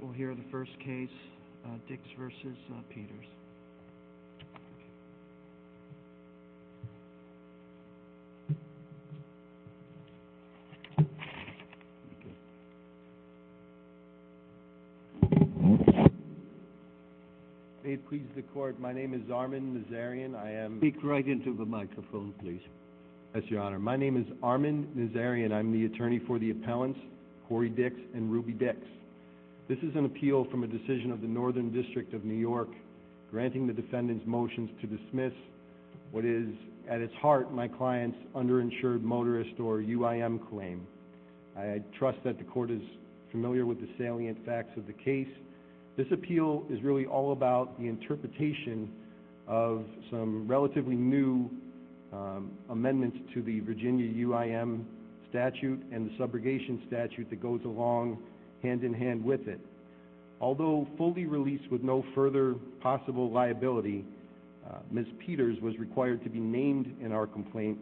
We'll hear the first case, Dix v. Peters. May it please the Court, my name is Armin Nazarian. I am... Speak right into the microphone, please. Yes, Your Honor. My name is Armin Nazarian. I'm the attorney for the appellants, Corey Dix and Ruby Dix. This is an appeal from a decision of the Northern District of New York, granting the defendant's motions to dismiss what is, at its heart, my client's underinsured motorist or UIM claim. I trust that the Court is familiar with the salient facts of the case. This appeal is really all about the interpretation of some relatively new amendments to the Virginia UIM statute and the subrogation statute that goes along hand-in-hand with it. Although fully released with no further possible liability, Ms. Peters was required to be named in our complaint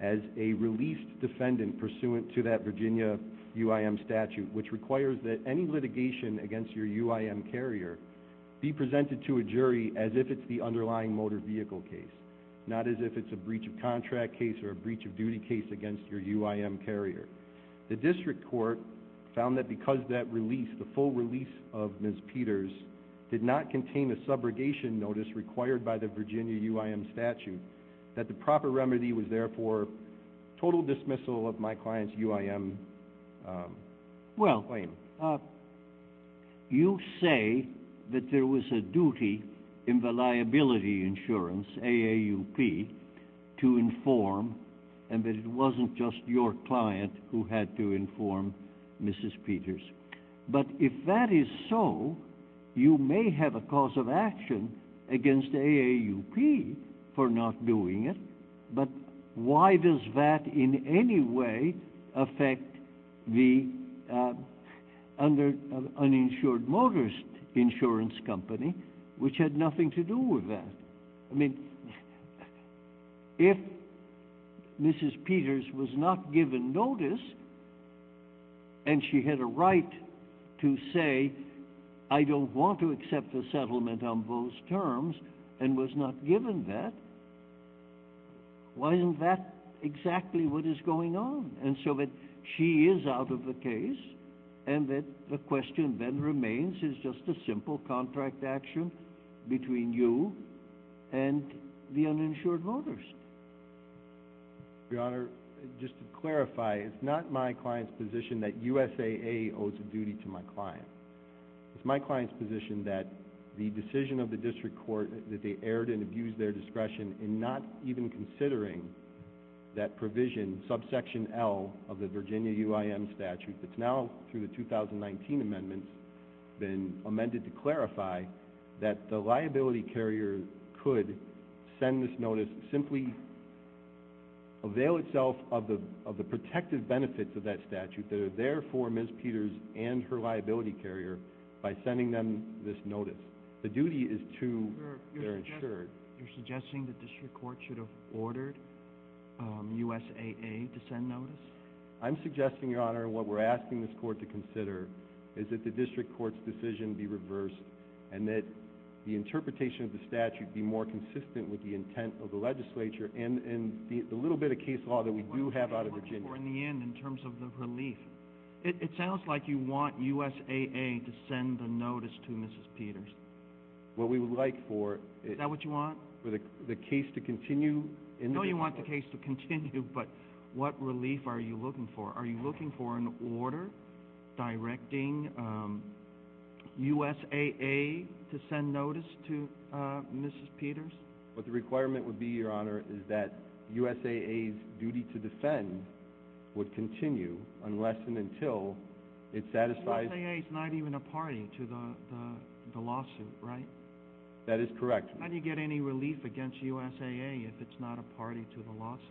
as a released defendant pursuant to that Virginia UIM statute, which requires that any litigation against your UIM carrier be presented to a jury as if it's the underlying motor vehicle case, not as if it's a breach of contract case or a breach of duty case against your UIM carrier. The District Court found that because that release, the full release of Ms. Peters, did not contain a subrogation notice required by the Virginia UIM statute, that the proper remedy was therefore total dismissal of my client's UIM claim. You say that there was a duty in the liability insurance, AAUP, to inform and that it wasn't just your client who had to inform Ms. Peters. But if that is so, you may have a cause of action against AAUP for not doing it, but why does that in any way affect the uninsured motorist insurance company, which had nothing to do with that? I mean, if Mrs. Peters was not given notice and she had a right to say, I don't want to accept the settlement on those terms and was not given that, why isn't that exactly what is going on? And so that she is out of the case and that the question then remains is just a simple contract action between you and the uninsured motorist. Your Honor, just to clarify, it's not my client's position that USAA owes a duty to my client. It's my client's position that the decision of the District Court that they erred and abused their discretion in not even considering that provision, subsection L of the Virginia UIM statute, that's now through the 2019 amendments, been amended to clarify that the liability carrier could send this notice, simply avail itself of the protective benefits of that statute that are there for Ms. Peters and her liability carrier by sending them this notice. The duty is to their insured. You're suggesting that the District Court should have ordered USAA to send notice? I'm suggesting, Your Honor, what we're asking this Court to consider is that the District Court's decision be reversed and that the interpretation of the statute be more consistent with the intent of the legislature and the little bit of case law that we do have out of Virginia. What are you looking for in the end in terms of the relief? It sounds like you want USAA to send the notice to Mrs. Peters. What we would like for... Is that what you want? For the case to continue? No, you want the case to continue, but what relief are you looking for? Are you looking for an order directing USAA to send notice to Mrs. Peters? What the requirement would be, Your Honor, is that USAA's duty to defend would continue unless and until it satisfies... USAA is not even a party to the lawsuit, right? That is correct. How do you get any relief against USAA if it's not a party to the lawsuit?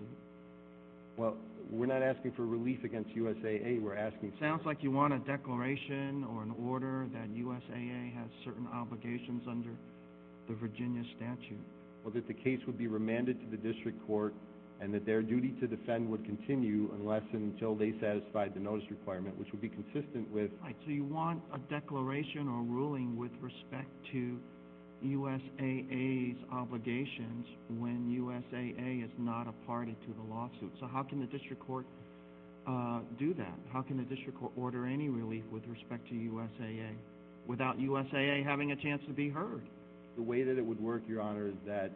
Well, we're not asking for relief against USAA, we're asking... Sounds like you want a declaration or an order that USAA has certain obligations under the Virginia statute. Well, that the case would be remanded to the District Court and that their duty to defend would continue unless and until they satisfied the notice requirement, which would be consistent with... Right, so you want a declaration or a ruling with respect to USAA's obligations when USAA is not a party to the lawsuit. So how can the District Court do that? How can the District Court order any relief with respect to USAA without USAA having a chance to be heard? The way that it would work, Your Honor, is that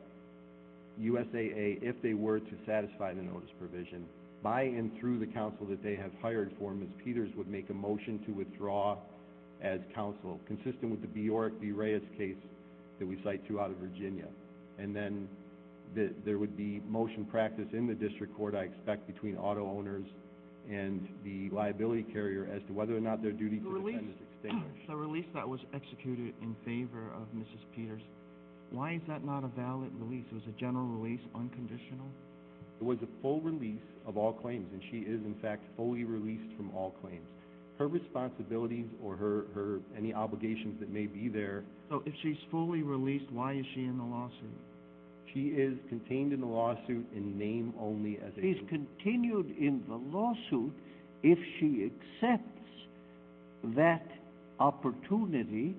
USAA, if they were to satisfy the notice provision, by and through the counsel that they have hired for Ms. Peters would make a motion to withdraw as counsel, consistent with the Bjork v. Reyes case that we cite throughout Virginia. And then there would be motion practice in the District Court, I expect, between auto owners and the liability carrier as to whether or not their duty to defend is extinguished. The release that was executed in favor of Ms. Peters, why is that not a valid release? Was the general release unconditional? It was a full release of all claims, and she is in fact fully released from all claims. Her responsibilities or any obligations that may be there... So if she's fully released, why is she in the lawsuit? She is contained in the lawsuit in name only as a... She's continued in the lawsuit if she accepts that opportunity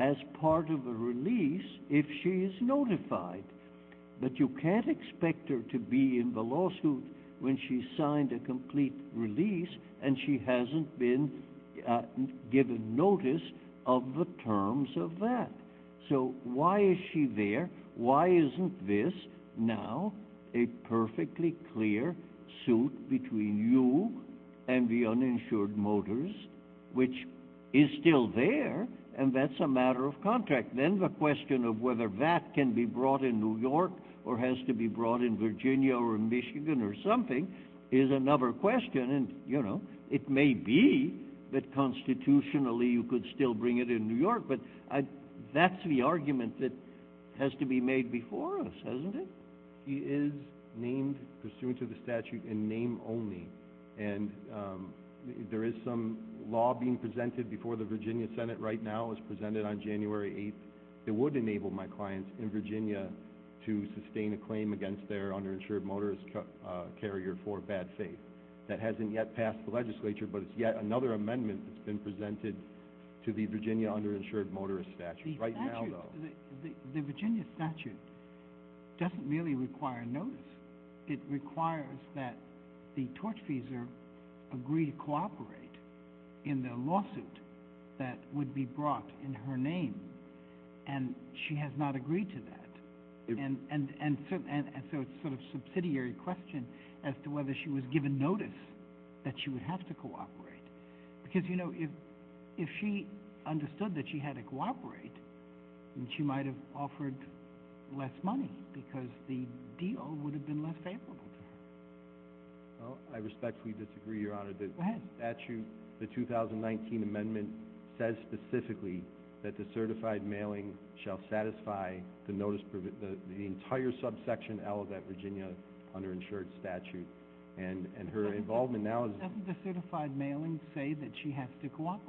as part of a release if she is notified. But you can't expect her to be in the lawsuit when she's signed a complete release and she hasn't been given notice of the terms of that. So why is she there? Why isn't this now a perfectly clear suit between you and the uninsured motors, which is still there, and that's a matter of contract? Then the question of whether that can be brought in New York or has to be brought in Virginia or Michigan or something is another question. It may be that constitutionally you could still bring it in New York, but that's the argument that has to be made before us, hasn't it? She is named pursuant to the statute in name only. There is some law being presented before the Virginia Senate right now. It was presented on January 8th. It would enable my clients in Virginia to sustain a claim against their underinsured motorist carrier for bad faith. That hasn't yet passed the legislature, but it's yet another amendment that's been presented to the Virginia underinsured motorist statute. The Virginia statute doesn't really require notice. It requires that the torchfeasor agree to cooperate in the lawsuit that would be brought in her name, and she has not agreed to that. So it's sort of a subsidiary question as to whether she was given notice that she would have to cooperate. If she understood that she had to cooperate, she might have offered less money because the deal would have been less favorable to her. I respectfully disagree, Your Honor. The 2019 amendment says specifically that the certified mailing shall satisfy the entire subsection L of that Virginia underinsured statute. Doesn't the certified mailing say that she has to cooperate?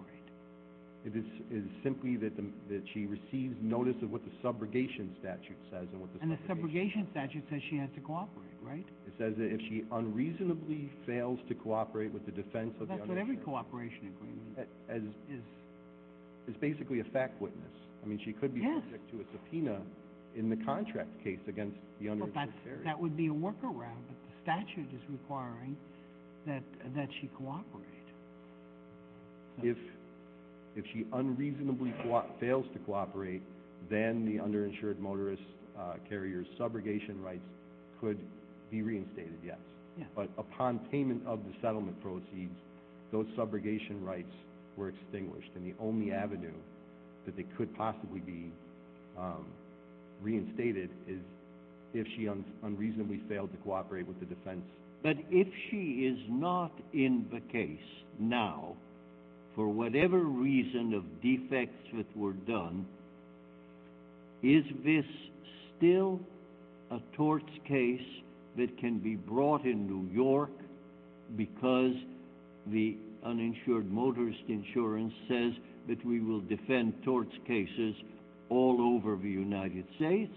It is simply that she receives notice of what the subrogation statute says. And the subrogation statute says she has to cooperate, right? It says that if she unreasonably fails to cooperate with the defense of the underinsured... That's what every cooperation agreement is. It's basically a fact witness. I mean, she could be subject to a subpoena in the contract case against the underinsured carrier. That would be a workaround, but the statute is requiring that she cooperate. If she unreasonably fails to cooperate, then the underinsured motorist carrier's subrogation rights could be reinstated, yes. But upon payment of the settlement proceeds, those subrogation rights were extinguished. And the only avenue that they could possibly be reinstated is if she unreasonably failed to cooperate with the defense. But if she is not in the case now for whatever reason of defects that were done, is this still a torts case that can be brought in New York because the uninsured motorist insurance says that we will defend torts cases all over the United States?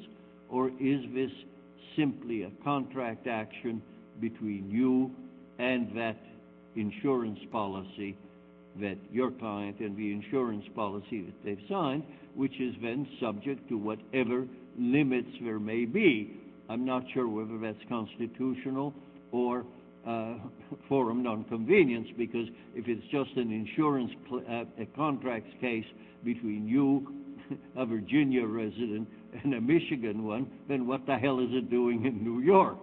Or is this simply a contract action between you and that insurance policy that your client and the insurance policy that they've signed, which is then subject to whatever limits there may be? I'm not sure whether that's constitutional or forum nonconvenience, because if it's just an insurance contract case between you, a Virginia resident, and a Michigan one, then what the hell is it doing in New York?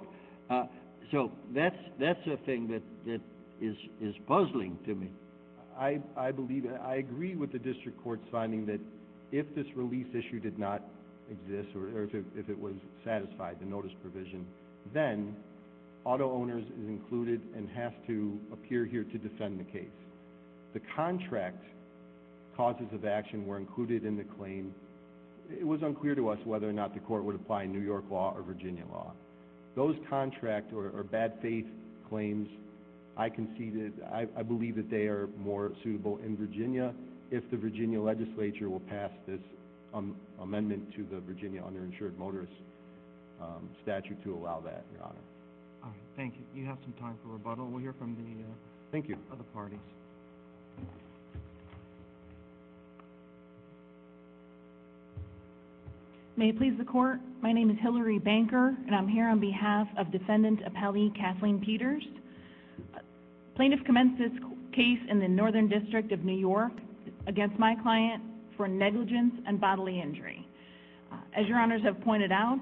So that's a thing that is puzzling to me. I agree with the district court's finding that if this release issue did not exist or if it was satisfied, the notice provision, then auto owners is included and have to appear here to defend the case. The contract causes of action were included in the claim. It was unclear to us whether or not the court would apply New York law or Virginia law. Those contract or bad faith claims, I believe that they are more suitable in Virginia if the Virginia legislature will pass this amendment to the Virginia underinsured motorist statute to allow that, Your Honor. Thank you. You have some time for rebuttal. We'll hear from the other parties. Thank you. May it please the court, my name is Hillary Banker, and I'm here on behalf of Defendant Appellee Kathleen Peters. Plaintiff commenced this case in the Northern District of New York against my client for negligence and bodily injury. As Your Honors have pointed out,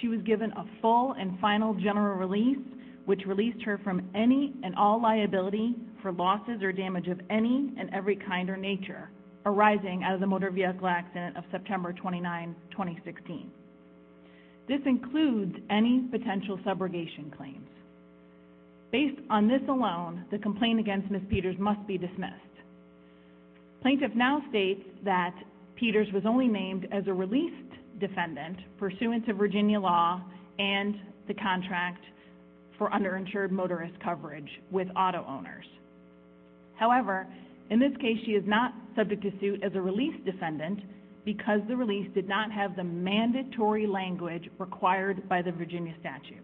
she was given a full and final general release, which released her from any and all liability for losses or damage of any and every kind or nature arising out of the motor vehicle accident of September 29, 2016. This includes any potential subrogation claims. Based on this alone, the complaint against Ms. Peters must be dismissed. Plaintiff now states that Peters was only named as a released defendant pursuant to Virginia law and the contract for underinsured motorist coverage with auto owners. However, in this case she is not subject to suit as a released defendant because the release did not have the mandatory language required by the Virginia statute.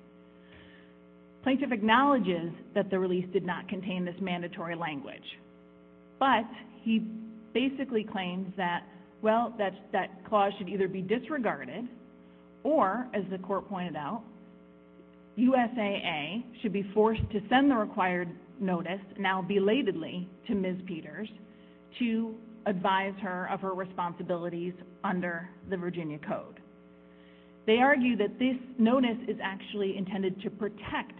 Plaintiff acknowledges that the release did not contain this mandatory language. But he basically claims that, well, that clause should either be disregarded or, as the court pointed out, USAA should be forced to send the required notice, now belatedly, to Ms. Peters to advise her of her responsibilities under the Virginia code. They argue that this notice is actually intended to protect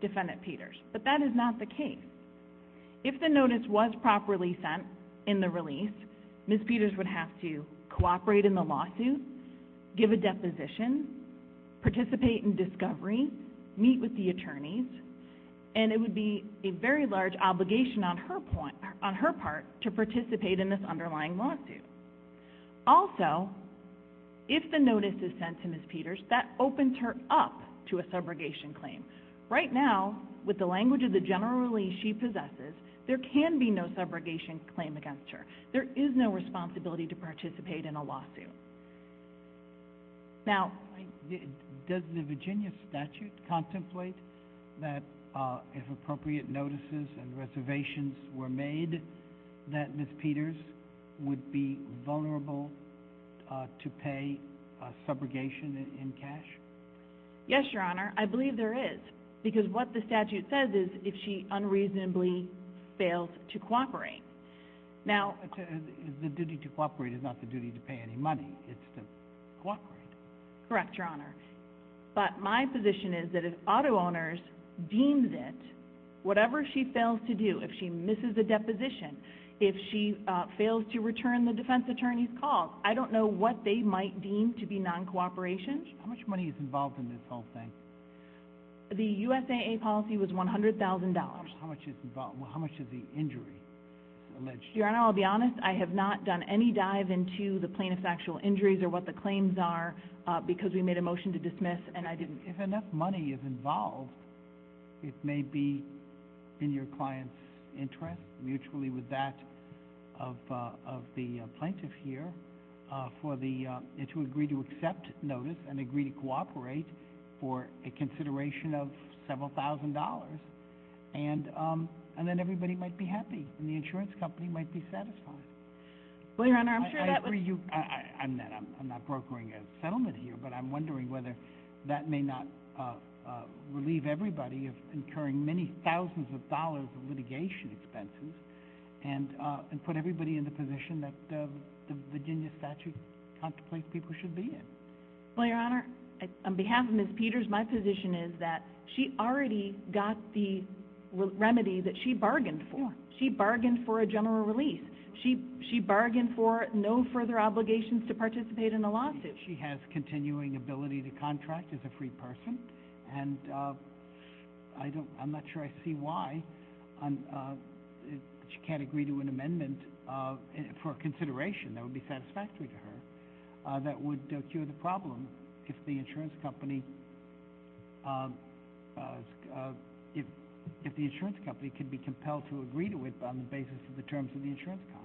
Defendant Peters, but that is not the case. If the notice was properly sent in the release, Ms. Peters would have to cooperate in the lawsuit, give a deposition, participate in discovery, meet with the attorneys, and it would be a very large obligation on her part to participate in this underlying lawsuit. Also, if the notice is sent to Ms. Peters, that opens her up to a subrogation claim. Right now, with the language of the general release she possesses, there can be no subrogation claim against her. There is no responsibility to participate in a lawsuit. Does the Virginia statute contemplate that, if appropriate notices and reservations were made, that Ms. Peters would be vulnerable to pay subrogation in cash? Yes, Your Honor. I believe there is. Because what the statute says is, if she unreasonably fails to cooperate. The duty to cooperate is not the duty to pay any money, it's to cooperate. Correct, Your Honor. But my position is that if auto owners deem that whatever she fails to do, if she misses a deposition, if she fails to return the defense attorney's call, I don't know what they might deem to be non-cooperation. How much money is involved in this whole thing? The USAA policy was $100,000. How much of the injury is alleged? Your Honor, I'll be honest, I have not done any dive into the plaintiff's actual injuries or what the claims are, because we made a motion to dismiss and I didn't. If enough money is involved, it may be in your client's interest, mutually with that of the plaintiff here, to agree to accept notice and agree to cooperate for a consideration of several thousand dollars. And then everybody might be happy and the insurance company might be satisfied. I agree, I'm not brokering a settlement here, but I'm wondering whether that may not relieve everybody of incurring many thousands of dollars of litigation expenses and put everybody in the position that the Virginia statute contemplates people should be in. Well, Your Honor, on behalf of Ms. Peters, my position is that she already got the remedy that she bargained for. She bargained for a general release. She bargained for no further obligations to participate in a lawsuit. She has continuing ability to contract as a free person, and I'm not sure I see why she can't agree to an amendment for consideration that would be satisfactory to her that would cure the problem if the insurance company could be compelled to agree to it on the basis of the terms of the insurance contract.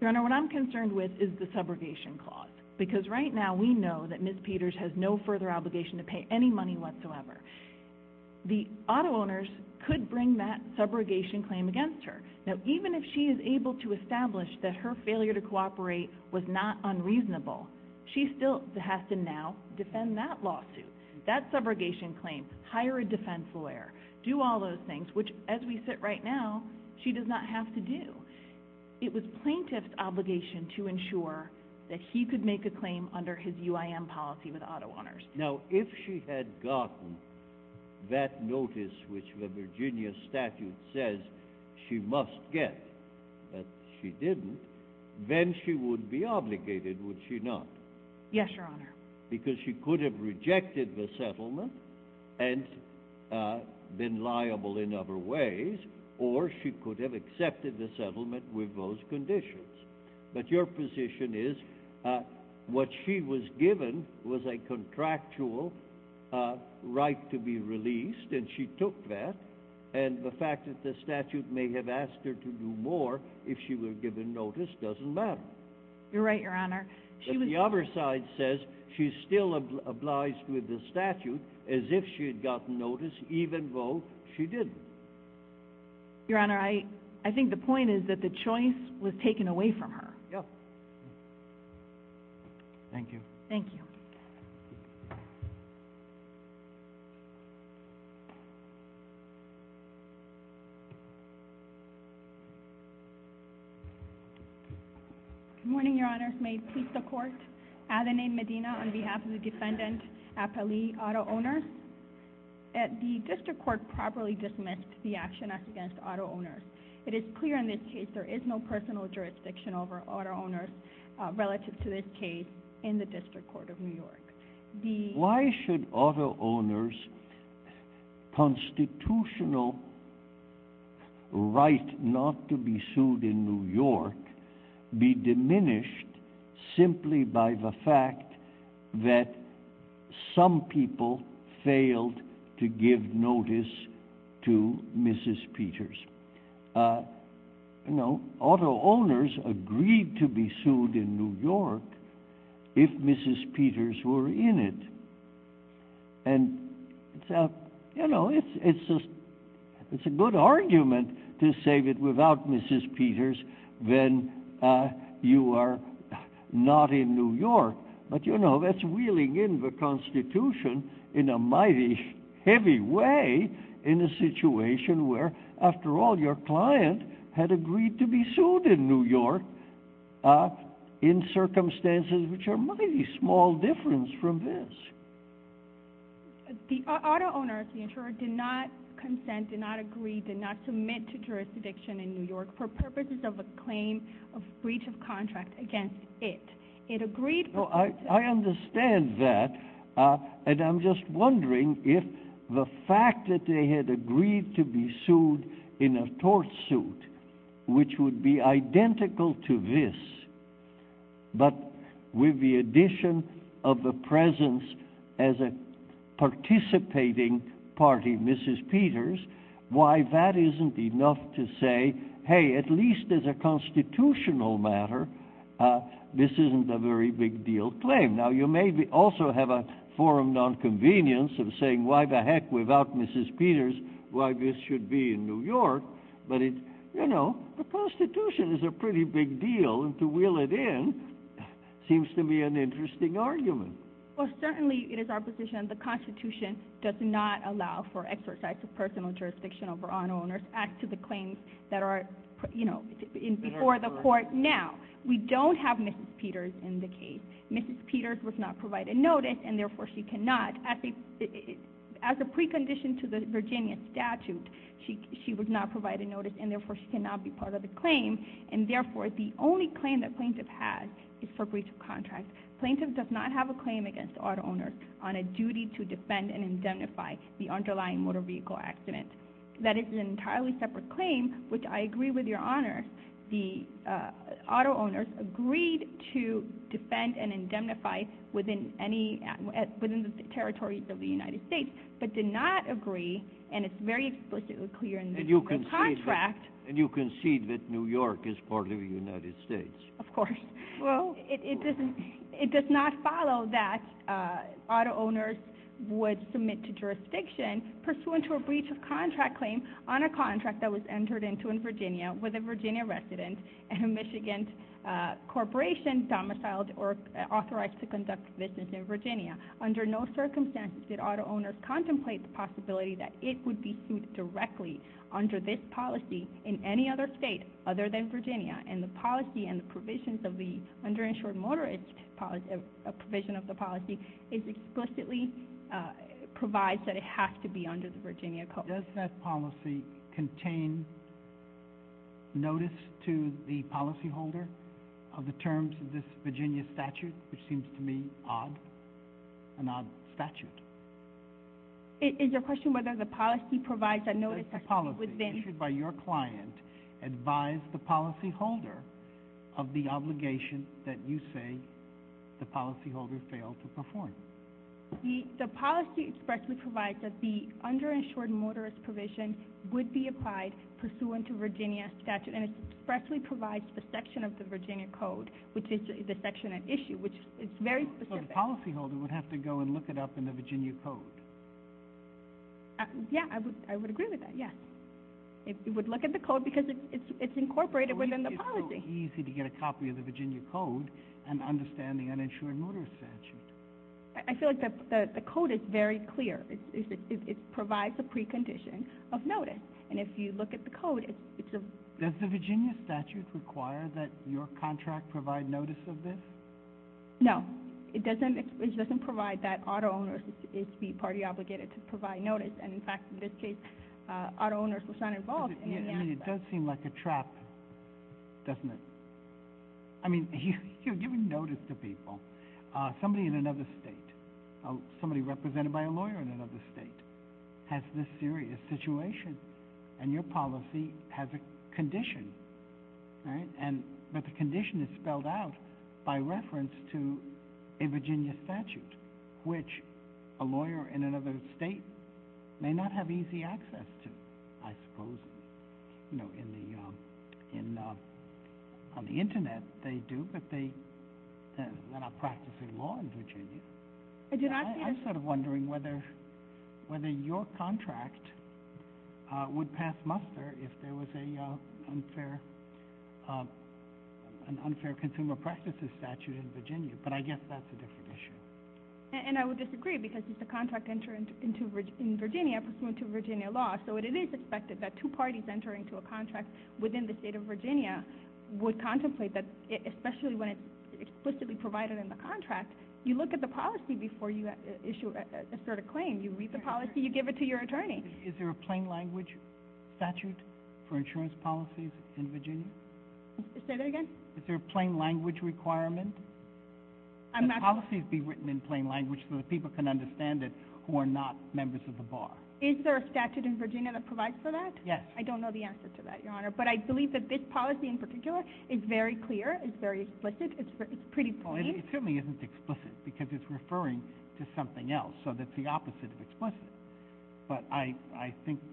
Your Honor, what I'm concerned with is the subrogation clause, because right now we know that Ms. Peters has no further obligation to pay any money whatsoever. The auto owners could bring that subrogation claim against her. Now, even if she is able to establish that her failure to cooperate was not unreasonable, she still has to now defend that lawsuit, that subrogation claim, hire a defense lawyer, do all those things, which, as we sit right now, she does not have to do. It was plaintiff's obligation to ensure that he could make a claim under his UIM policy with auto owners. Now, if she had gotten that notice, which the Virginia statute says she must get, but she didn't, then she would be obligated, would she not? Yes, Your Honor. Because she could have rejected the settlement and been liable in other ways, or she could have accepted the settlement with those conditions. But your position is what she was given was a contractual right to be released, and she took that, and the fact that the statute may have asked her to do more if she were given notice doesn't matter. You're right, Your Honor. But the other side says she still obliged with the statute as if she had gotten notice, even though she didn't. Your Honor, I think the point is that the choice was taken away from her. Yes. Thank you. Thank you. Good morning, Your Honors. May it please the Court. Adeline Medina on behalf of the defendant, Appali Auto Owners. The District Court properly dismissed the action as against auto owners. It is clear in this case there is no personal jurisdiction over auto owners relative to this case in the District Court of New York. Why should auto owners' constitutional right not to be sued in New York be diminished simply by the fact that some people failed to give notice to Mrs. Peters? You know, auto owners agreed to be sued in New York if Mrs. Peters were in it, and, you know, it's a good argument to say that without Mrs. Peters, then you are not in New York, but, you know, that's wheeling in the Constitution in a mighty heavy way in a situation where, after all, your client had agreed to be sued in New York in circumstances which are a mighty small difference from this. The auto owner, the insurer, did not consent, did not agree, did not submit to jurisdiction in New York for purposes of a claim of breach of contract against it. I understand that, and I'm just wondering if the fact that they had agreed to be sued in a tort suit, which would be identical to this, but with the addition of the presence as a participating party, Mrs. Peters, why that isn't enough to say, hey, at least as a constitutional matter, this isn't a very big deal claim. Now, you may also have a forum nonconvenience of saying, why the heck, without Mrs. Peters, why this should be in New York? But, you know, the Constitution is a pretty big deal, and to wheel it in seems to be an interesting argument. Well, certainly, it is our position the Constitution does not allow for exercise of personal jurisdiction over auto owners, as to the claims that are, you know, before the court. Now, we don't have Mrs. Peters in the case. Mrs. Peters was not provided notice, and therefore she cannot, as a precondition to the Virginia statute, she was not provided notice, and therefore she cannot be part of the claim. And, therefore, the only claim that plaintiff has is for breach of contract. Plaintiff does not have a claim against auto owners on a duty to defend and indemnify the underlying motor vehicle accident. That is an entirely separate claim, which I agree with your honors. The auto owners agreed to defend and indemnify within any, within the territories of the United States, but did not agree, and it's very explicitly clear in the contract. And you concede that New York is part of the United States? Of course. Well, it doesn't, it does not follow that auto owners would submit to jurisdiction pursuant to a breach of contract claim on a contract that was entered into in Virginia with a Virginia resident and a Michigan corporation domiciled or authorized to conduct business in Virginia. Under no circumstances did auto owners contemplate the possibility that it would be sued directly under this policy in any other state other than Virginia. And the policy and the provisions of the underinsured motorist provision of the policy explicitly provides that it has to be under the Virginia code. Does that policy contain notice to the policyholder of the terms of this Virginia statute, which seems to me odd, an odd statute? Is your question whether the policy provides a notice within... Does the policy issued by your client advise the policyholder of the obligation that you say the policyholder failed to perform? The policy expressly provides that the underinsured motorist provision would be applied pursuant to Virginia statute, and it expressly provides the section of the Virginia code, which is the section at issue, which is very specific. So the policyholder would have to go and look it up in the Virginia code? Yeah, I would agree with that, yes. It would look at the code because it's incorporated within the policy. It's so easy to get a copy of the Virginia code and understand the uninsured motorist statute. I feel like the code is very clear. It provides a precondition of notice. And if you look at the code, it's a... Does the Virginia statute require that your contract provide notice of this? No. It doesn't provide that auto owners is to be partly obligated to provide notice. And, in fact, in this case, auto owners was not involved. It does seem like a trap, doesn't it? I mean, you're giving notice to people. Somebody in another state, somebody represented by a lawyer in another state has this serious situation, and your policy has a condition, right? I suppose, you know, on the Internet, they do, but they're not practicing law in Virginia. I'm sort of wondering whether your contract would pass muster if there was an unfair consumer practices statute in Virginia, but I guess that's a different issue. And I would disagree because it's a contract entering into Virginia pursuant to Virginia law. So it is expected that two parties entering to a contract within the state of Virginia would contemplate that, especially when it's explicitly provided in the contract, you look at the policy before you issue a sort of claim. You read the policy. You give it to your attorney. Is there a plain language statute for insurance policies in Virginia? Say that again? Is there a plain language requirement? Can policies be written in plain language so that people can understand it who are not members of the bar? Is there a statute in Virginia that provides for that? Yes. I don't know the answer to that, Your Honor, but I believe that this policy in particular is very clear. It's very explicit. It's pretty plain. Well, it certainly isn't explicit because it's referring to something else, so that's the opposite of explicit.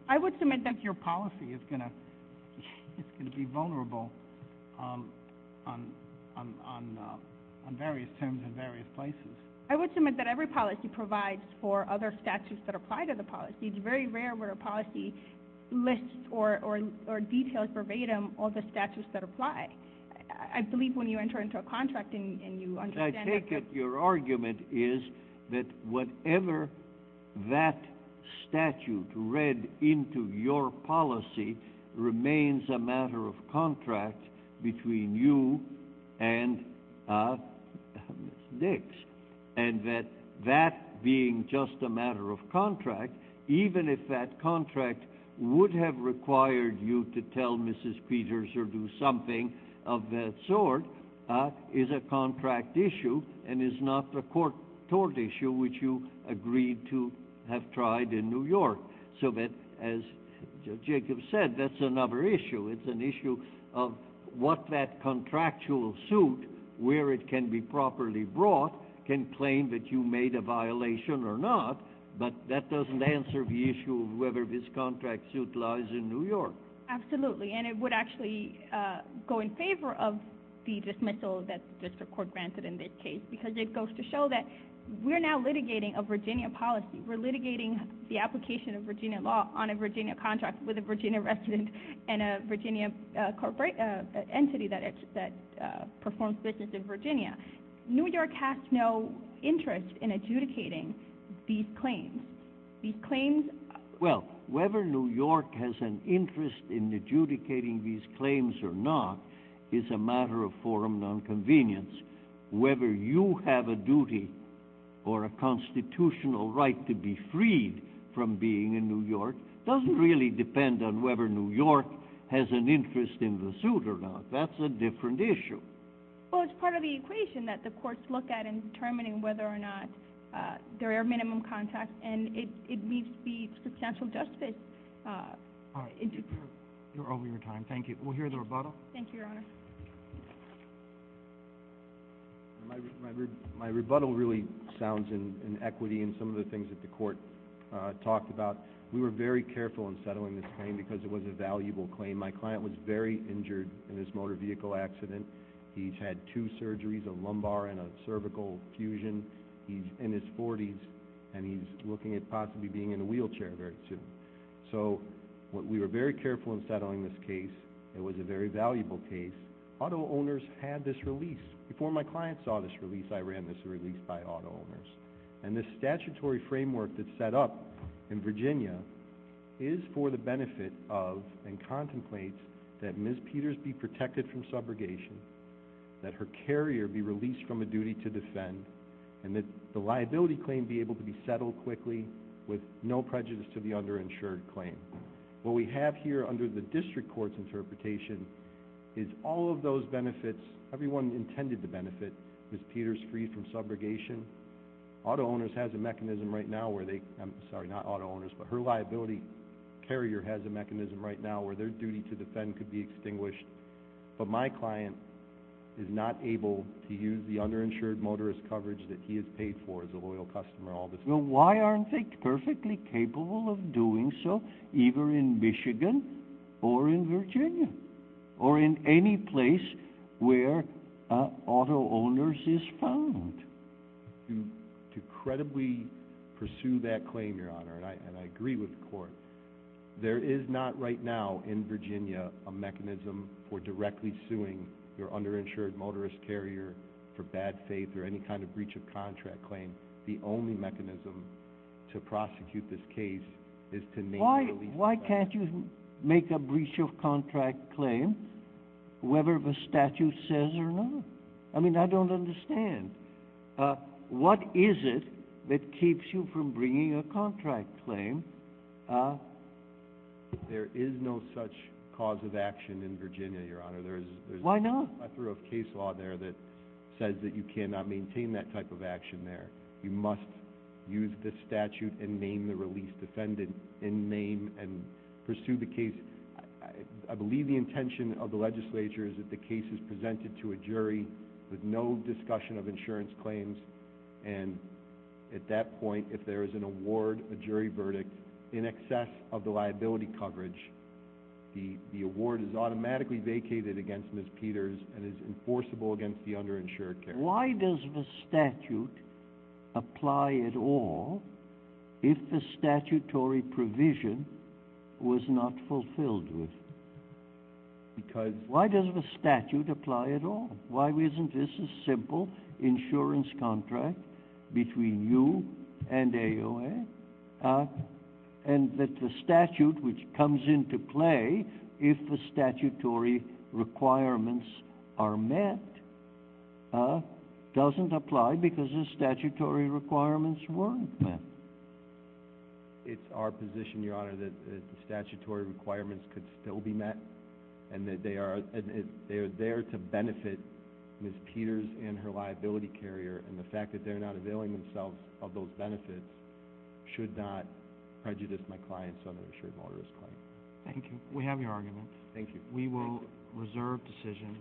I would submit that your policy is going to be vulnerable on various terms in various places. I would submit that every policy provides for other statutes that apply to the policy. It's very rare where a policy lists or details verbatim all the statutes that apply. I believe when you enter into a contract and you understand what you're... I take it your argument is that whatever that statute read into your policy remains a matter of contract between you and Ms. Dix, and that that being just a matter of contract, even if that contract would have required you to tell Mrs. Peters or do something of that sort, is a contract issue and is not the court-tort issue which you agreed to have tried in New York. So that, as Jacob said, that's another issue. It's an issue of what that contractual suit, where it can be properly brought, can claim that you made a violation or not, but that doesn't answer the issue of whether this contract suit lies in New York. Absolutely, and it would actually go in favor of the dismissal that the district court granted in this case because it goes to show that we're now litigating a Virginia policy. We're litigating the application of Virginia law on a Virginia contract with a Virginia resident and a Virginia entity that performs business in Virginia. New York has no interest in adjudicating these claims. These claims... Well, whether New York has an interest in adjudicating these claims or not is a matter of forum nonconvenience. Whether you have a duty or a constitutional right to be freed from being in New York doesn't really depend on whether New York has an interest in the suit or not. That's a different issue. Well, it's part of the equation that the courts look at in determining whether or not there are minimum contracts, and it needs to be substantial justice. You're over your time. Thank you. We'll hear the rebuttal. Thank you, Your Honor. My rebuttal really sounds in equity in some of the things that the court talked about. We were very careful in settling this claim because it was a valuable claim. My client was very injured in this motor vehicle accident. He's had two surgeries, a lumbar and a cervical fusion. He's in his 40s, and he's looking at possibly being in a wheelchair very soon. So we were very careful in settling this case. It was a very valuable case. Auto owners had this release. Before my client saw this release, I ran this release by auto owners. And this statutory framework that's set up in Virginia is for the benefit of and contemplates that Ms. Peters be protected from subrogation, that her carrier be released from a duty to defend, and that the liability claim be able to be settled quickly with no prejudice to the underinsured claim. What we have here under the district court's interpretation is all of those benefits, everyone intended to benefit Ms. Peters free from subrogation. Auto owners has a mechanism right now where they, I'm sorry, not auto owners, but her liability carrier has a mechanism right now where their duty to defend could be extinguished. But my client is not able to use the underinsured motorist coverage that he has paid for as a loyal customer all this time. Well, why aren't they perfectly capable of doing so either in Michigan or in Virginia or in any place where auto owners is found? To credibly pursue that claim, Your Honor, and I agree with the court, there is not right now in Virginia a mechanism for directly suing your underinsured motorist carrier for bad faith or any kind of breach of contract claim. The only mechanism to prosecute this case is to make a release. Why can't you make a breach of contract claim whether the statute says or not? I mean, I don't understand. What is it that keeps you from bringing a contract claim? There is no such cause of action in Virginia, Your Honor. Why not? There is a whole plethora of case law there that says that you cannot maintain that type of action there. You must use the statute and name the release defendant in name and pursue the case. I believe the intention of the legislature is that the case is presented to a jury with no discussion of insurance claims. And at that point, if there is an award, a jury verdict in excess of the liability coverage, the award is automatically vacated against Ms. Peters and is enforceable against the underinsured carrier. Why does the statute apply at all if the statutory provision was not fulfilled with it? Why does the statute apply at all? Why isn't this a simple insurance contract between you and AOA? And that the statute, which comes into play if the statutory requirements are met, doesn't apply because the statutory requirements weren't met. It's our position, Your Honor, that the statutory requirements could still be met and that they are there to benefit Ms. Peters and her liability carrier, and the fact that they're not availing themselves of those benefits should not prejudice my client's underinsured motorist claim. Thank you. We have your argument. Thank you. We will reserve decision.